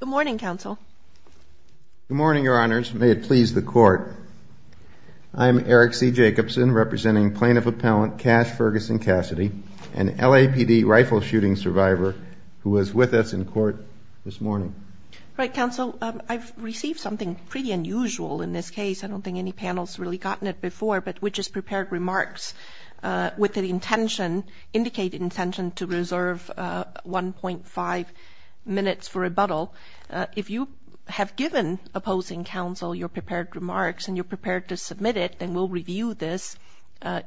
Good morning, Counsel. Good morning, Your Honors. May it please the Court, I am Eric C. Jacobson, representing Plaintiff Appellant Cash Ferguson-Cassidy, an LAPD rifle shooting survivor who was with us in court this morning. All right, Counsel, I've received something pretty unusual in this case. I don't think any panel's really gotten it before, but we just prepared remarks with the intention, indicated intention to reserve 1.5 minutes for rebuttal. If you have given opposing counsel your prepared remarks and you're prepared to submit it, then we'll review this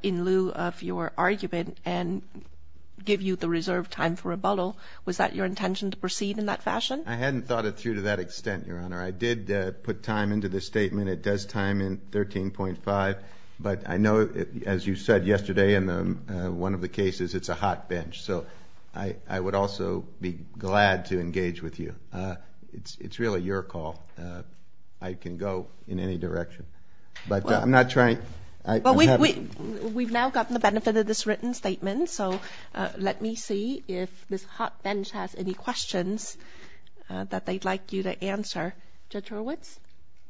in lieu of your argument and give you the reserved time for rebuttal. Was that your intention to proceed in that fashion? I hadn't thought it through to that extent, Your Honor. I did put time into this statement. It does time in 13.5, but I know, as you said yesterday in one of the cases, it's a hot bench. So I would also be glad to engage with you. It's really your call. I can go in any direction. But I'm not trying – We've now gotten the benefit of this written statement, so let me see if this hot bench has any questions that they'd like you to answer. Judge Horwitz?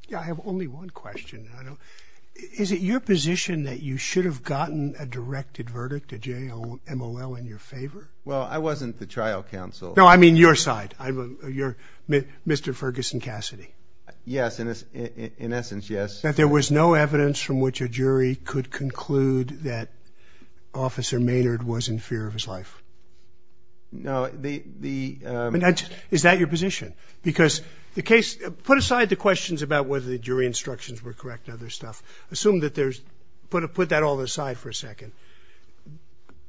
Yeah, I have only one question. Is it your position that you should have gotten a directed verdict, a J-M-O-L, in your favor? Well, I wasn't the trial counsel. No, I mean your side, Mr. Ferguson Cassidy. Yes, in essence, yes. That there was no evidence from which a jury could conclude that Officer Maynard was in fear of his life? No, the – Is that your position? Because the case – Put aside the questions about whether the jury instructions were correct and other stuff. Assume that there's – Put that all aside for a second.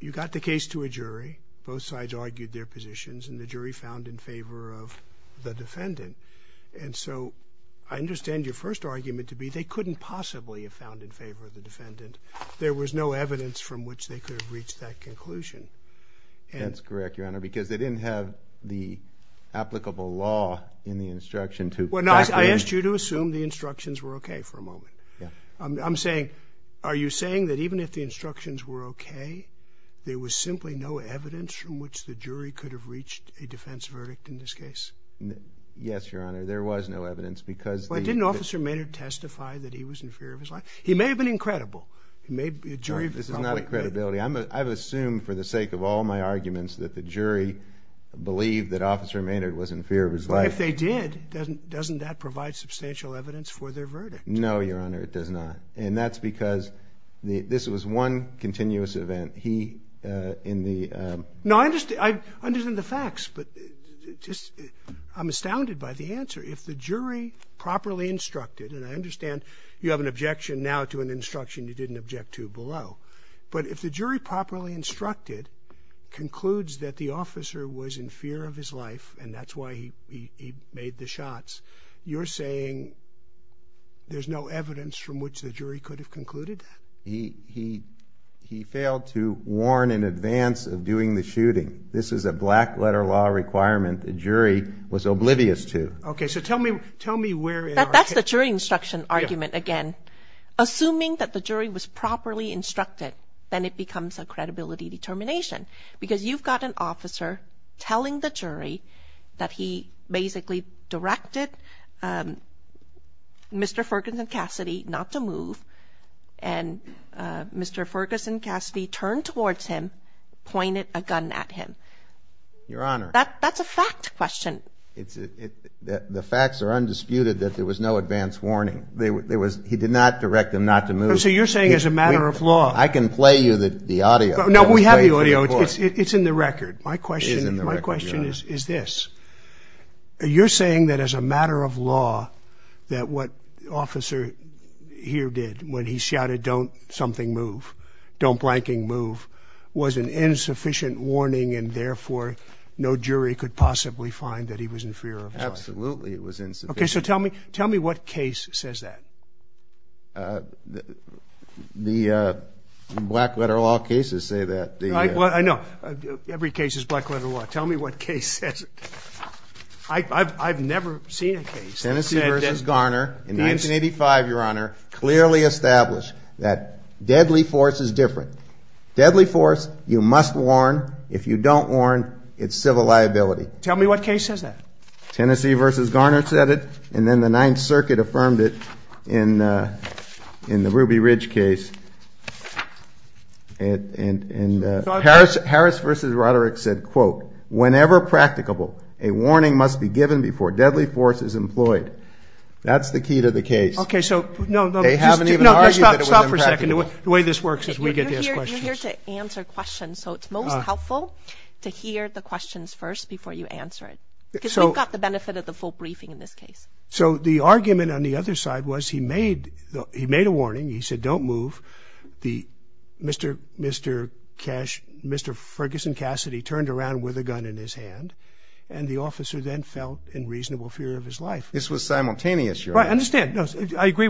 You got the case to a jury. Both sides argued their positions, and the jury found in favor of the defendant. And so I understand your first argument to be they couldn't possibly have found in favor of the defendant. There was no evidence from which they could have reached that conclusion. That's correct, Your Honor, because they didn't have the applicable law in the instruction to – Well, no, I asked you to assume the instructions were okay for a moment. I'm saying, are you saying that even if the instructions were okay, there was simply no evidence from which the jury could have reached a defense verdict in this case? Yes, Your Honor, there was no evidence because the – But didn't Officer Maynard testify that he was in fear of his life? He may have been incredible. This is not a credibility. I've assumed for the sake of all my arguments that the jury believed that Officer Maynard was in fear of his life. If they did, doesn't that provide substantial evidence for their verdict? No, Your Honor, it does not. And that's because this was one continuous event. He, in the – No, I understand the facts, but I'm astounded by the answer. If the jury properly instructed, and I understand you have an objection now to an instruction you didn't object to below, but if the jury properly instructed, concludes that the officer was in fear of his life and that's why he made the shots, you're saying there's no evidence from which the jury could have concluded that? He failed to warn in advance of doing the shooting. This is a black-letter law requirement the jury was oblivious to. Okay, so tell me where in our – That's the jury instruction argument again. Assuming that the jury was properly instructed, then it becomes a credibility determination because you've got an officer telling the jury that he basically directed Mr. Ferguson Cassidy not to move and Mr. Ferguson Cassidy turned towards him, pointed a gun at him. Your Honor. That's a fact question. The facts are undisputed that there was no advance warning. There was – he did not direct him not to move. So you're saying as a matter of law – I can play you the audio. No, we have the audio. It's in the record. My question is this. You're saying that as a matter of law that what the officer here did when he shouted, don't something move, don't blanking move, was an insufficient warning and therefore no jury could possibly find that he was in fear of his life. Absolutely it was insufficient. Okay. So tell me what case says that. The black letter law cases say that. I know. Every case is black letter law. Tell me what case says it. I've never seen a case. Tennessee v. Garner in 1985, Your Honor, clearly established that deadly force is different. Deadly force you must warn. If you don't warn, it's civil liability. Tell me what case says that. Tennessee v. Garner said it, and then the Ninth Circuit affirmed it in the Ruby Ridge case. Harris v. Roderick said, quote, whenever practicable, a warning must be given before deadly force is employed. That's the key to the case. Okay, so no, no. They haven't even argued that it was impracticable. Stop for a second. The way this works is we get to ask questions. You're here to answer questions, so it's most helpful to hear the questions first before you answer it. Because we've got the benefit of the full briefing in this case. So the argument on the other side was he made a warning. He said don't move. Mr. Ferguson Cassidy turned around with a gun in his hand, and the officer then fell in reasonable fear of his life. This was simultaneous, Your Honor. I understand. No, I agree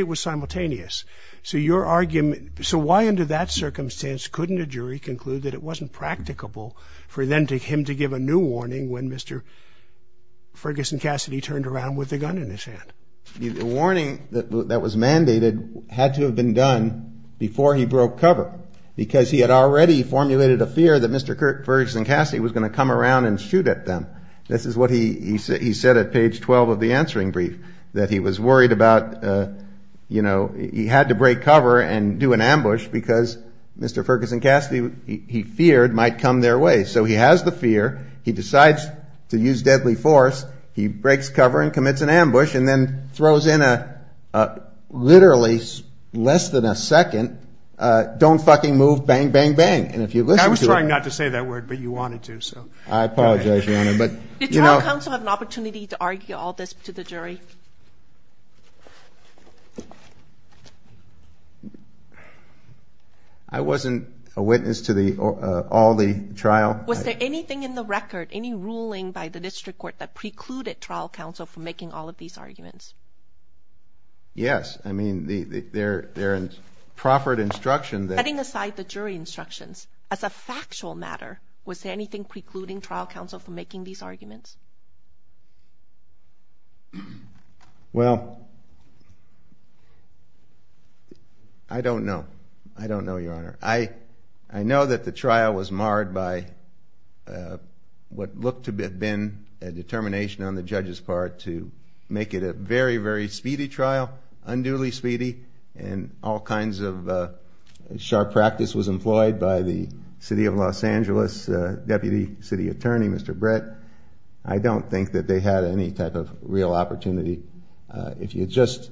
it was simultaneous. So why under that circumstance couldn't a jury conclude that it wasn't practicable for then him to give a new warning when Mr. Ferguson Cassidy turned around with a gun in his hand? The warning that was mandated had to have been done before he broke cover because he had already formulated a fear that Mr. Ferguson Cassidy was going to come around and shoot at them. This is what he said at page 12 of the answering brief, that he was worried about, you know, he had to break cover and do an ambush because Mr. Ferguson Cassidy, he feared, might come their way. So he has the fear. He decides to use deadly force. He breaks cover and commits an ambush and then throws in a literally less than a second, don't fucking move, bang, bang, bang. And if you listen to it. I was trying not to say that word, but you wanted to, so. I apologize, Your Honor. Did trial counsel have an opportunity to argue all this to the jury? I wasn't a witness to all the trial. Was there anything in the record, any ruling by the district court, that precluded trial counsel from making all of these arguments? Yes. I mean, there is proffered instruction that. Setting aside the jury instructions, as a factual matter, was there anything precluding trial counsel from making these arguments? Well, I don't know. I don't know, Your Honor. I know that the trial was marred by what looked to have been a determination on the judge's part to make it a very, very speedy trial, unduly speedy, and all kinds of sharp practice was employed by the city of Los Angeles deputy city attorney, Mr. Brett. I don't think that they had any type of real opportunity. If you just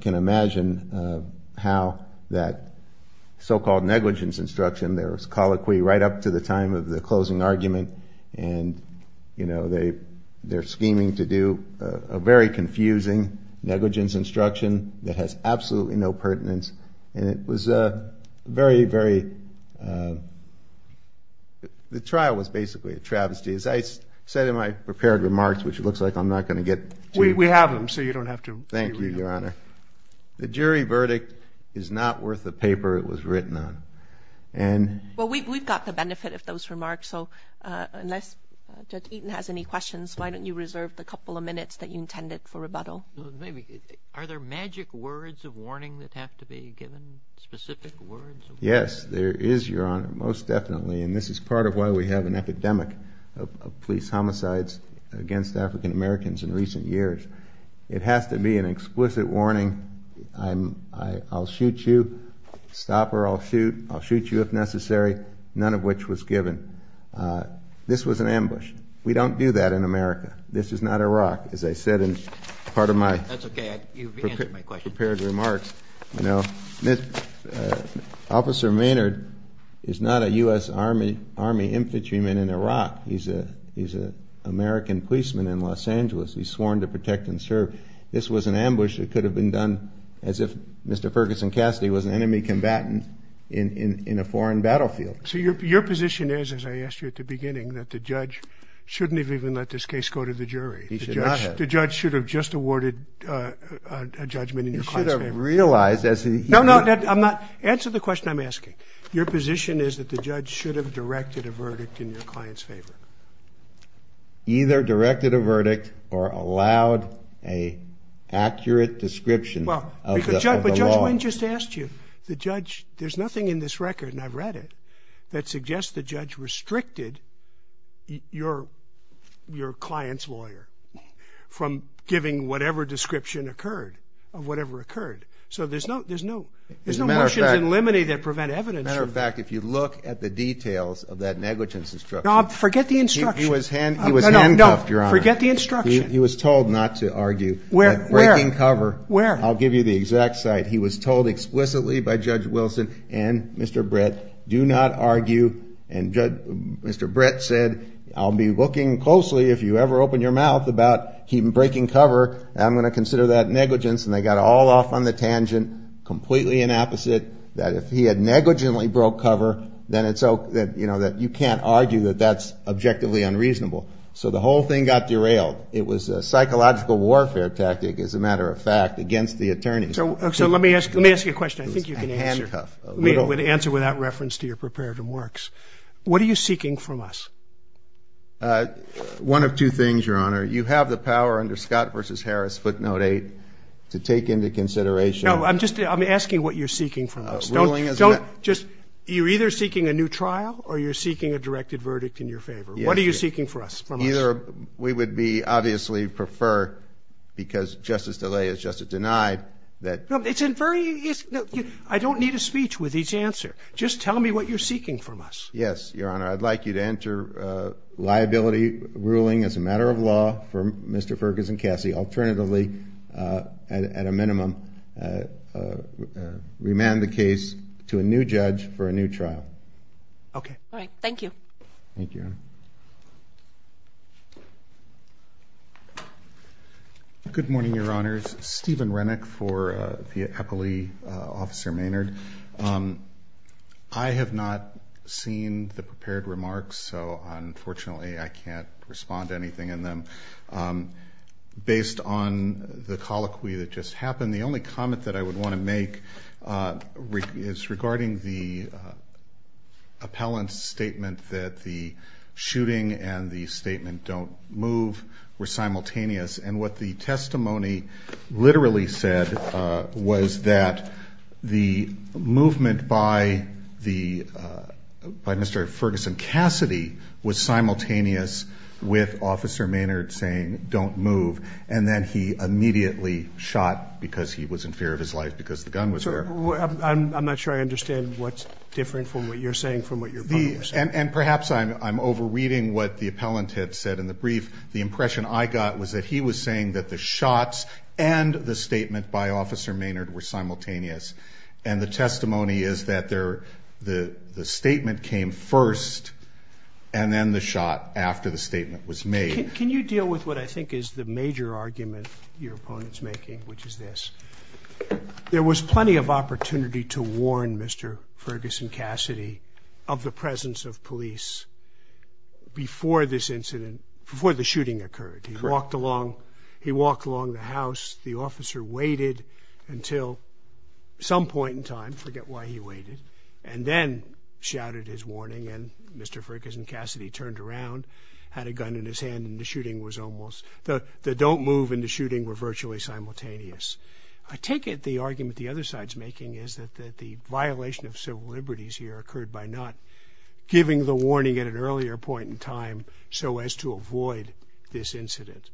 can imagine how that so-called negligence instruction, there was colloquy right up to the time of the closing argument, and they're scheming to do a very confusing negligence instruction that has absolutely no pertinence, and it was a very, very – the trial was basically a travesty. As I said in my prepared remarks, which it looks like I'm not going to get to. We have them, so you don't have to reread them. Thank you, Your Honor. The jury verdict is not worth the paper it was written on. Well, we've got the benefit of those remarks, so unless Judge Eaton has any questions, why don't you reserve the couple of minutes that you intended for rebuttal? Are there magic words of warning that have to be given, specific words? Yes, there is, Your Honor, most definitely, and this is part of why we have an epidemic of police homicides against African Americans in recent years. It has to be an explicit warning. I'll shoot you, stop or I'll shoot. I'll shoot you if necessary, none of which was given. This was an ambush. We don't do that in America. This is not Iraq, as I said in part of my prepared remarks. That's okay, you've answered my question. Officer Maynard is not a U.S. Army infantryman in Iraq. He's an American policeman in Los Angeles. He's sworn to protect and serve. This was an ambush that could have been done as if Mr. Ferguson Cassidy was an enemy combatant in a foreign battlefield. So your position is, as I asked you at the beginning, that the judge shouldn't have even let this case go to the jury. He should not have. The judge should have just awarded a judgment in your client's favor. He should have realized as he... No, no, answer the question I'm asking. Your position is that the judge should have directed a verdict in your client's favor. Either directed a verdict or allowed an accurate description of the law. The judge, there's nothing in this record, and I've read it, that suggests the judge restricted your client's lawyer from giving whatever description occurred, of whatever occurred. So there's no motions in limine that prevent evidence. As a matter of fact, if you look at the details of that negligence instruction. No, forget the instruction. He was handcuffed, Your Honor. Forget the instruction. He was told not to argue. Where? Breaking cover. Where? I'll give you the exact site. He was told explicitly by Judge Wilson and Mr. Brett, do not argue. And Mr. Brett said, I'll be looking closely if you ever open your mouth about him breaking cover. I'm going to consider that negligence. And they got all off on the tangent, completely inapposite. That if he had negligently broke cover, then you can't argue that that's objectively unreasonable. So the whole thing got derailed. It was a psychological warfare tactic, as a matter of fact, against the attorney. So let me ask you a question. I think you can answer. He was handcuffed. An answer without reference to your preparative works. What are you seeking from us? One of two things, Your Honor. You have the power under Scott v. Harris, footnote 8, to take into consideration. No, I'm just asking what you're seeking from us. Don't just you're either seeking a new trial or you're seeking a directed verdict in your favor. What are you seeking from us? Either we would be obviously prefer, because Justice DeLay has just denied that. I don't need a speech with each answer. Just tell me what you're seeking from us. Yes, Your Honor. I'd like you to enter liability ruling as a matter of law for Mr. Ferguson Cassie. Alternatively, at a minimum, remand the case to a new judge for a new trial. Okay. All right. Thank you. Thank you. Good morning, Your Honors. Steven Renick for the appellee, Officer Maynard. I have not seen the prepared remarks, so unfortunately I can't respond to anything in them. Based on the colloquy that just happened, the only comment that I would want to make is regarding the appellant's statement that the shooting and the statement don't move were simultaneous. And what the testimony literally said was that the movement by Mr. Ferguson Cassie was simultaneous with Officer Maynard saying don't move. And then he immediately shot because he was in fear of his life because the gun was there. I'm not sure I understand what's differing from what you're saying from what your opponent was saying. And perhaps I'm overreading what the appellant had said in the brief. The impression I got was that he was saying that the shots and the statement by Officer Maynard were simultaneous. And the testimony is that the statement came first and then the shot after the statement was made. Can you deal with what I think is the major argument your opponent's making, which is this. There was plenty of opportunity to warn Mr. Ferguson Cassie of the presence of police before this incident, before the shooting occurred. He walked along the house. The officer waited until some point in time, forget why he waited, and then shouted his warning. And Mr. Ferguson Cassie turned around, had a gun in his hand, and the shooting was almost, the don't move and the shooting were virtually simultaneous. I take it the argument the other side's making is that the violation of civil liberties here occurred by not giving the warning at an earlier point in time so as to avoid this incident.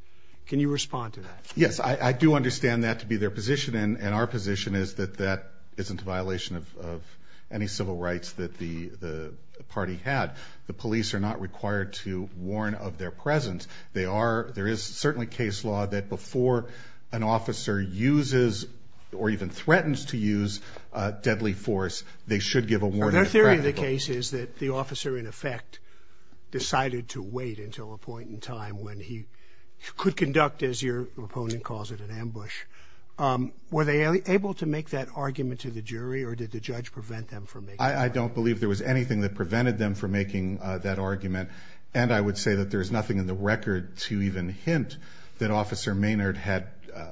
Can you respond to that? Yes, I do understand that to be their position. And our position is that that isn't a violation of any civil rights that the party had. The police are not required to warn of their presence. There is certainly case law that before an officer uses or even threatens to use deadly force, they should give a warning. Their theory of the case is that the officer, in effect, decided to wait until a point in time when he could conduct, as your opponent calls it, an ambush. Were they able to make that argument to the jury, or did the judge prevent them from making that argument? I don't believe there was anything that prevented them from making that argument. And I would say that there is nothing in the record to even hint that Officer Maynard had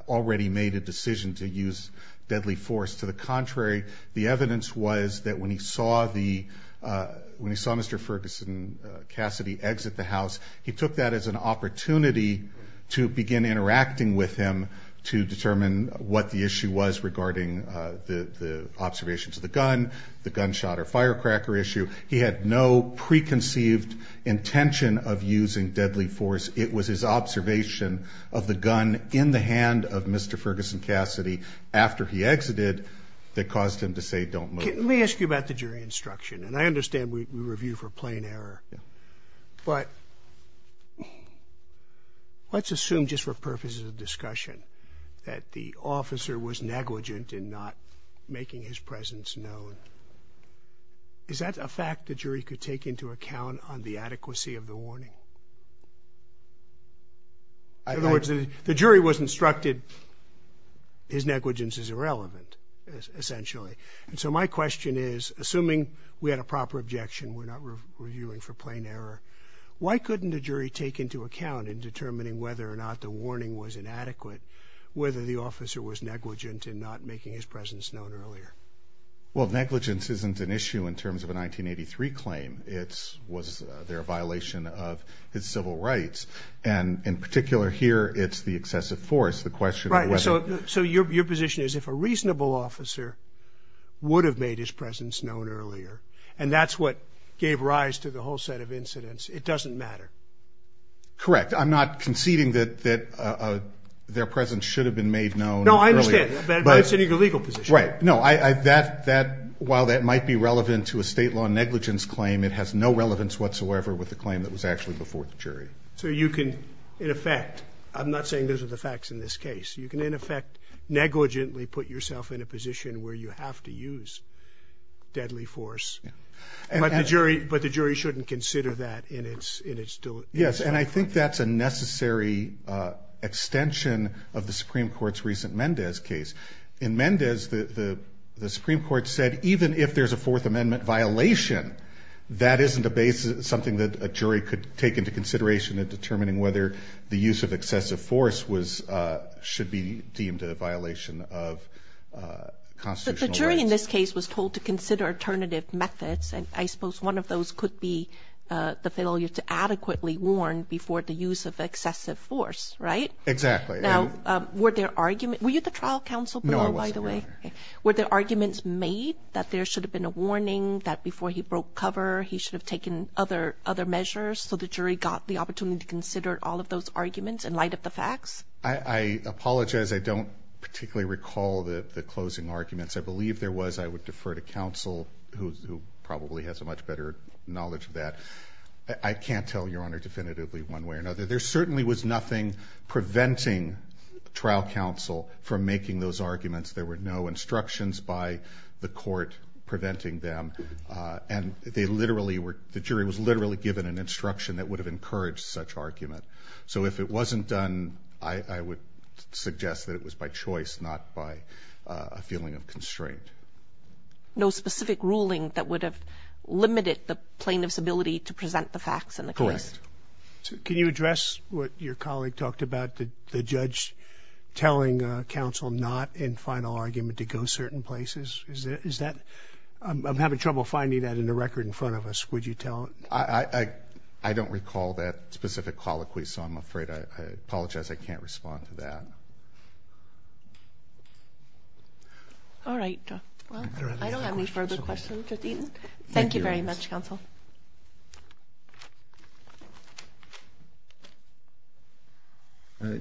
already made a decision to use deadly force. To the contrary, the evidence was that when he saw Mr. Ferguson Cassie exit the house, he took that as an opportunity to begin interacting with him to determine what the issue was regarding the observations of the gun, the gunshot or firecracker issue. He had no preconceived intention of using deadly force. It was his observation of the gun in the hand of Mr. Ferguson Cassie after he exited that caused him to say, don't move. Let me ask you about the jury instruction. And I understand we review for plain error. Yeah. But let's assume just for purposes of discussion that the officer was negligent in not making his presence known. Is that a fact the jury could take into account on the adequacy of the warning? In other words, the jury was instructed his negligence is irrelevant, essentially. And so my question is, assuming we had a proper objection, we're not reviewing for plain error. Why couldn't a jury take into account in determining whether or not the warning was inadequate, whether the officer was negligent in not making his presence known earlier? Well, negligence isn't an issue in terms of a 1983 claim. It was their violation of his civil rights. And in particular here, it's the excessive force. So your position is if a reasonable officer would have made his presence known earlier and that's what gave rise to the whole set of incidents, it doesn't matter. Correct. I'm not conceding that their presence should have been made known earlier. No, I understand. But it's in your legal position. Right. No, while that might be relevant to a state law negligence claim, it has no relevance whatsoever with the claim that was actually before the jury. So you can, in effect, I'm not saying those are the facts in this case. You can, in effect, negligently put yourself in a position where you have to use deadly force. Yeah. But the jury shouldn't consider that in its delivery. Yes, and I think that's a necessary extension of the Supreme Court's recent Mendez case. In Mendez, the Supreme Court said even if there's a Fourth Amendment violation, that isn't something that a jury could take into consideration in determining whether the use of excessive force should be deemed a violation of constitutional rights. But the jury in this case was told to consider alternative methods, and I suppose one of those could be the failure to adequately warn before the use of excessive force, right? Exactly. Now, were there arguments? Were you at the trial counsel, by the way? No, I wasn't, Your Honor. Okay. Were there arguments made that there should have been a warning, that before he broke cover he should have taken other measures so the jury got the opportunity to consider all of those arguments in light of the facts? I apologize. I don't particularly recall the closing arguments. I believe there was. I would defer to counsel, who probably has a much better knowledge of that. I can't tell, Your Honor, definitively one way or another. There certainly was nothing preventing trial counsel from making those arguments. There were no instructions by the court preventing them, and the jury was literally given an instruction that would have encouraged such argument. So if it wasn't done, I would suggest that it was by choice, not by a feeling of constraint. No specific ruling that would have limited the plaintiff's ability to present the facts in the case? Correct. Can you address what your colleague talked about, the judge telling counsel not in final argument to go certain places? Is that – I'm having trouble finding that in the record in front of us. Would you tell it? I don't recall that specific colloquy, so I'm afraid I apologize. I can't respond to that. All right. I don't have any further questions. Thank you very much, counsel.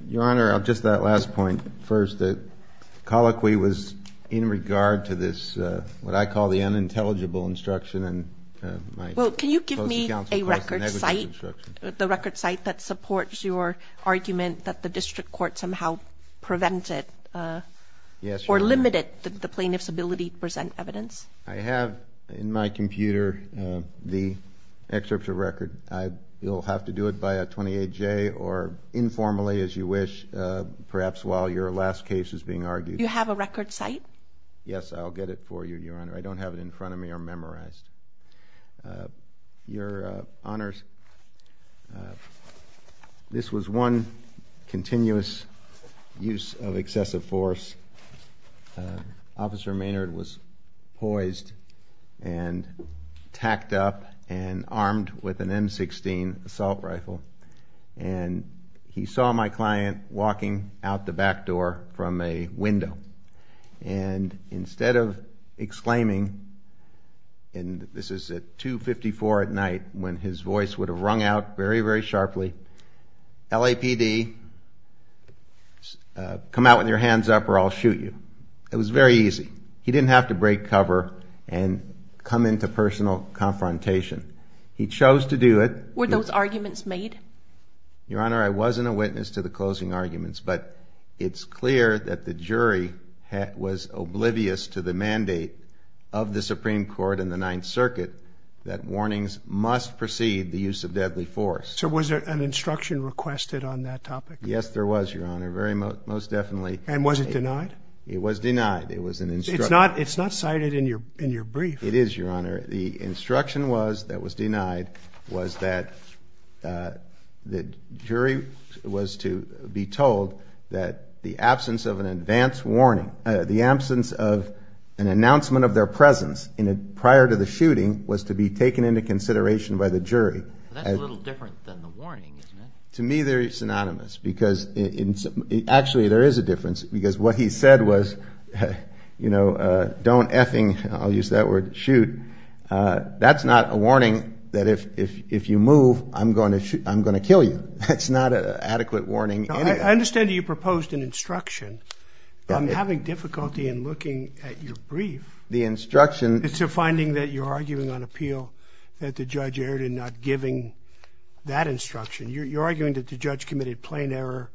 Your Honor, just that last point first. The colloquy was in regard to this, what I call the unintelligible instruction. Well, can you give me a record site, the record site that supports your argument that the district court somehow prevented or limited the plaintiff's ability to present evidence? I have in my computer the excerpt of record. You'll have to do it by a 28-J or informally as you wish, perhaps while your last case is being argued. Do you have a record site? Yes, I'll get it for you, Your Honor. I don't have it in front of me or memorized. Your Honors, this was one continuous use of excessive force. Officer Maynard was poised and tacked up and armed with an M16 assault rifle, and he saw my client walking out the back door from a window, and instead of exclaiming, and this is at 254 at night when his voice would have rung out very, very sharply, LAPD, come out with your hands up or I'll shoot you. It was very easy. He didn't have to break cover and come into personal confrontation. He chose to do it. Were those arguments made? Your Honor, I wasn't a witness to the closing arguments, but it's clear that the jury was oblivious to the mandate of the Supreme Court and the Ninth Circuit that warnings must precede the use of deadly force. So was there an instruction requested on that topic? Yes, there was, Your Honor, most definitely. And was it denied? It was denied. It's not cited in your brief. It is, Your Honor. The instruction that was denied was that the jury was to be told that the absence of an advance warning, the absence of an announcement of their presence prior to the shooting was to be taken into consideration by the jury. That's a little different than the warning, isn't it? To me, they're synonymous because actually there is a difference because what he said was, you know, don't effing, I'll use that word, shoot. That's not a warning that if you move, I'm going to kill you. That's not an adequate warning. I understand that you proposed an instruction, but I'm having difficulty in looking at your brief. The instruction. It's a finding that you're arguing on appeal that the judge erred in not giving that instruction. You're arguing that the judge committed plain error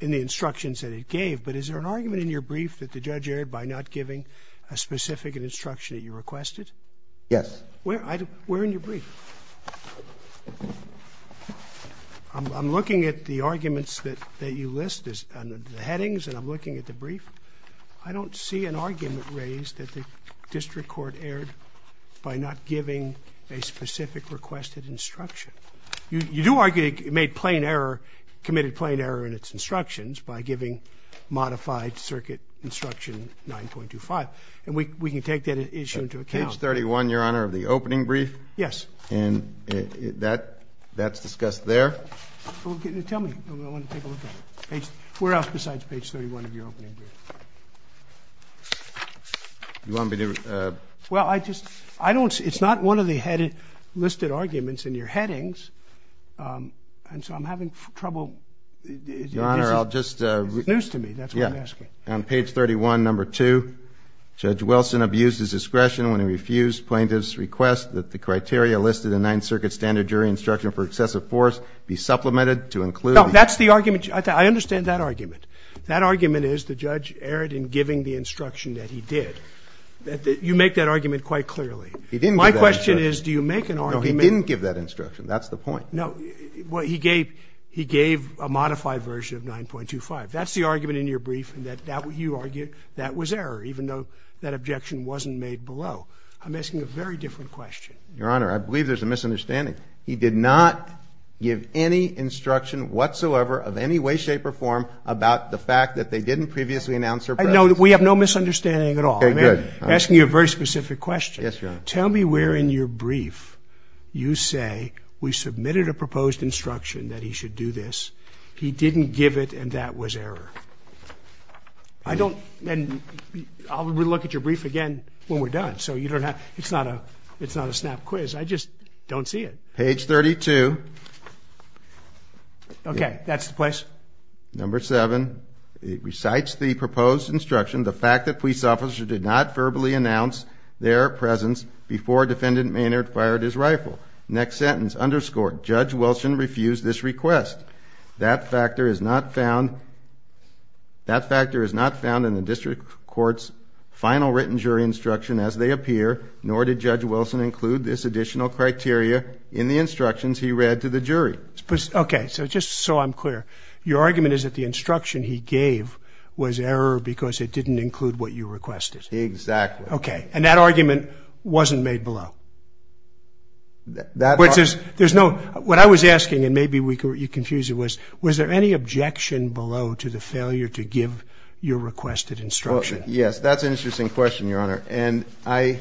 in the instructions that he gave, but is there an argument in your brief that the judge erred by not giving a specific instruction that you requested? Yes. Where in your brief? I'm looking at the arguments that you list on the headings and I'm looking at the brief. I don't see an argument raised that the district court erred by not giving a specific requested instruction. You do argue he made plain error, committed plain error in its instructions by giving modified circuit instruction 9.25, and we can take that issue into account. Page 31, Your Honor, of the opening brief? Yes. And that's discussed there? Tell me. I want to take a look at it. Where else besides page 31 of your opening brief? You want me to? Well, I just don't see it. It's not one of the listed arguments in your headings, and so I'm having trouble. Your Honor, I'll just. It's news to me. That's what I'm asking. On page 31, number two, Judge Wilson abused his discretion when he refused plaintiff's request that the criteria listed in Ninth Circuit standard jury instruction for excessive force be supplemented to include. No, that's the argument. I understand that argument. That argument is the judge erred in giving the instruction that he did. You make that argument quite clearly. He didn't give that instruction. My question is do you make an argument. No, he didn't give that instruction. That's the point. No. He gave a modified version of 9.25. That's the argument in your brief in that you argue that was error, even though that objection wasn't made below. I'm asking a very different question. Your Honor, I believe there's a misunderstanding. He did not give any instruction whatsoever of any way, shape, or form about the fact that they didn't previously announce her presence. No, we have no misunderstanding at all. Okay, good. I'm asking you a very specific question. Yes, Your Honor. Tell me where in your brief you say we submitted a proposed instruction that he should do this. He didn't give it, and that was error. I don't, and I'll look at your brief again when we're done. So you don't have, it's not a, it's not a snap quiz. I just don't see it. Page 32. Okay, that's the place. Number 7, it recites the proposed instruction, the fact that police officers did not verbally announce their presence before Defendant Maynard fired his rifle. Next sentence, underscored, Judge Wilson refused this request. That factor is not found in the district court's final written jury instruction as they appear, nor did Judge Wilson include this additional criteria in the instructions he read to the jury. Okay, so just so I'm clear, your argument is that the instruction he gave was error because it didn't include what you requested. Exactly. Okay, and that argument wasn't made below. That argument. There's no, what I was asking, and maybe you confused it, was there any objection below to the failure to give your requested instruction? Yes, that's an interesting question, Your Honor. And I,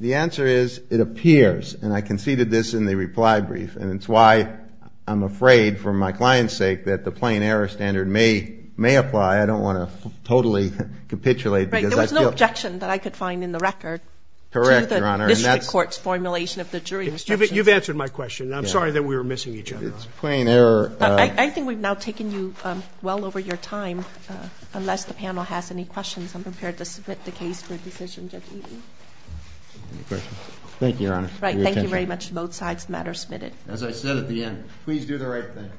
the answer is it appears, and I conceded this in the reply brief, and it's why I'm afraid for my client's sake that the plain error standard may apply. I don't want to totally capitulate. Right, there was no objection that I could find in the record. Correct, Your Honor. To the district court's formulation of the jury instruction. You've answered my question, and I'm sorry that we were missing each other. It's plain error. I think we've now taken you well over your time. Unless the panel has any questions, I'm prepared to submit the case for decision, Judge Eaton. Any questions? Thank you, Your Honor. Thank you very much. Both sides of the matter submitted. As I said at the end, please do the right thing.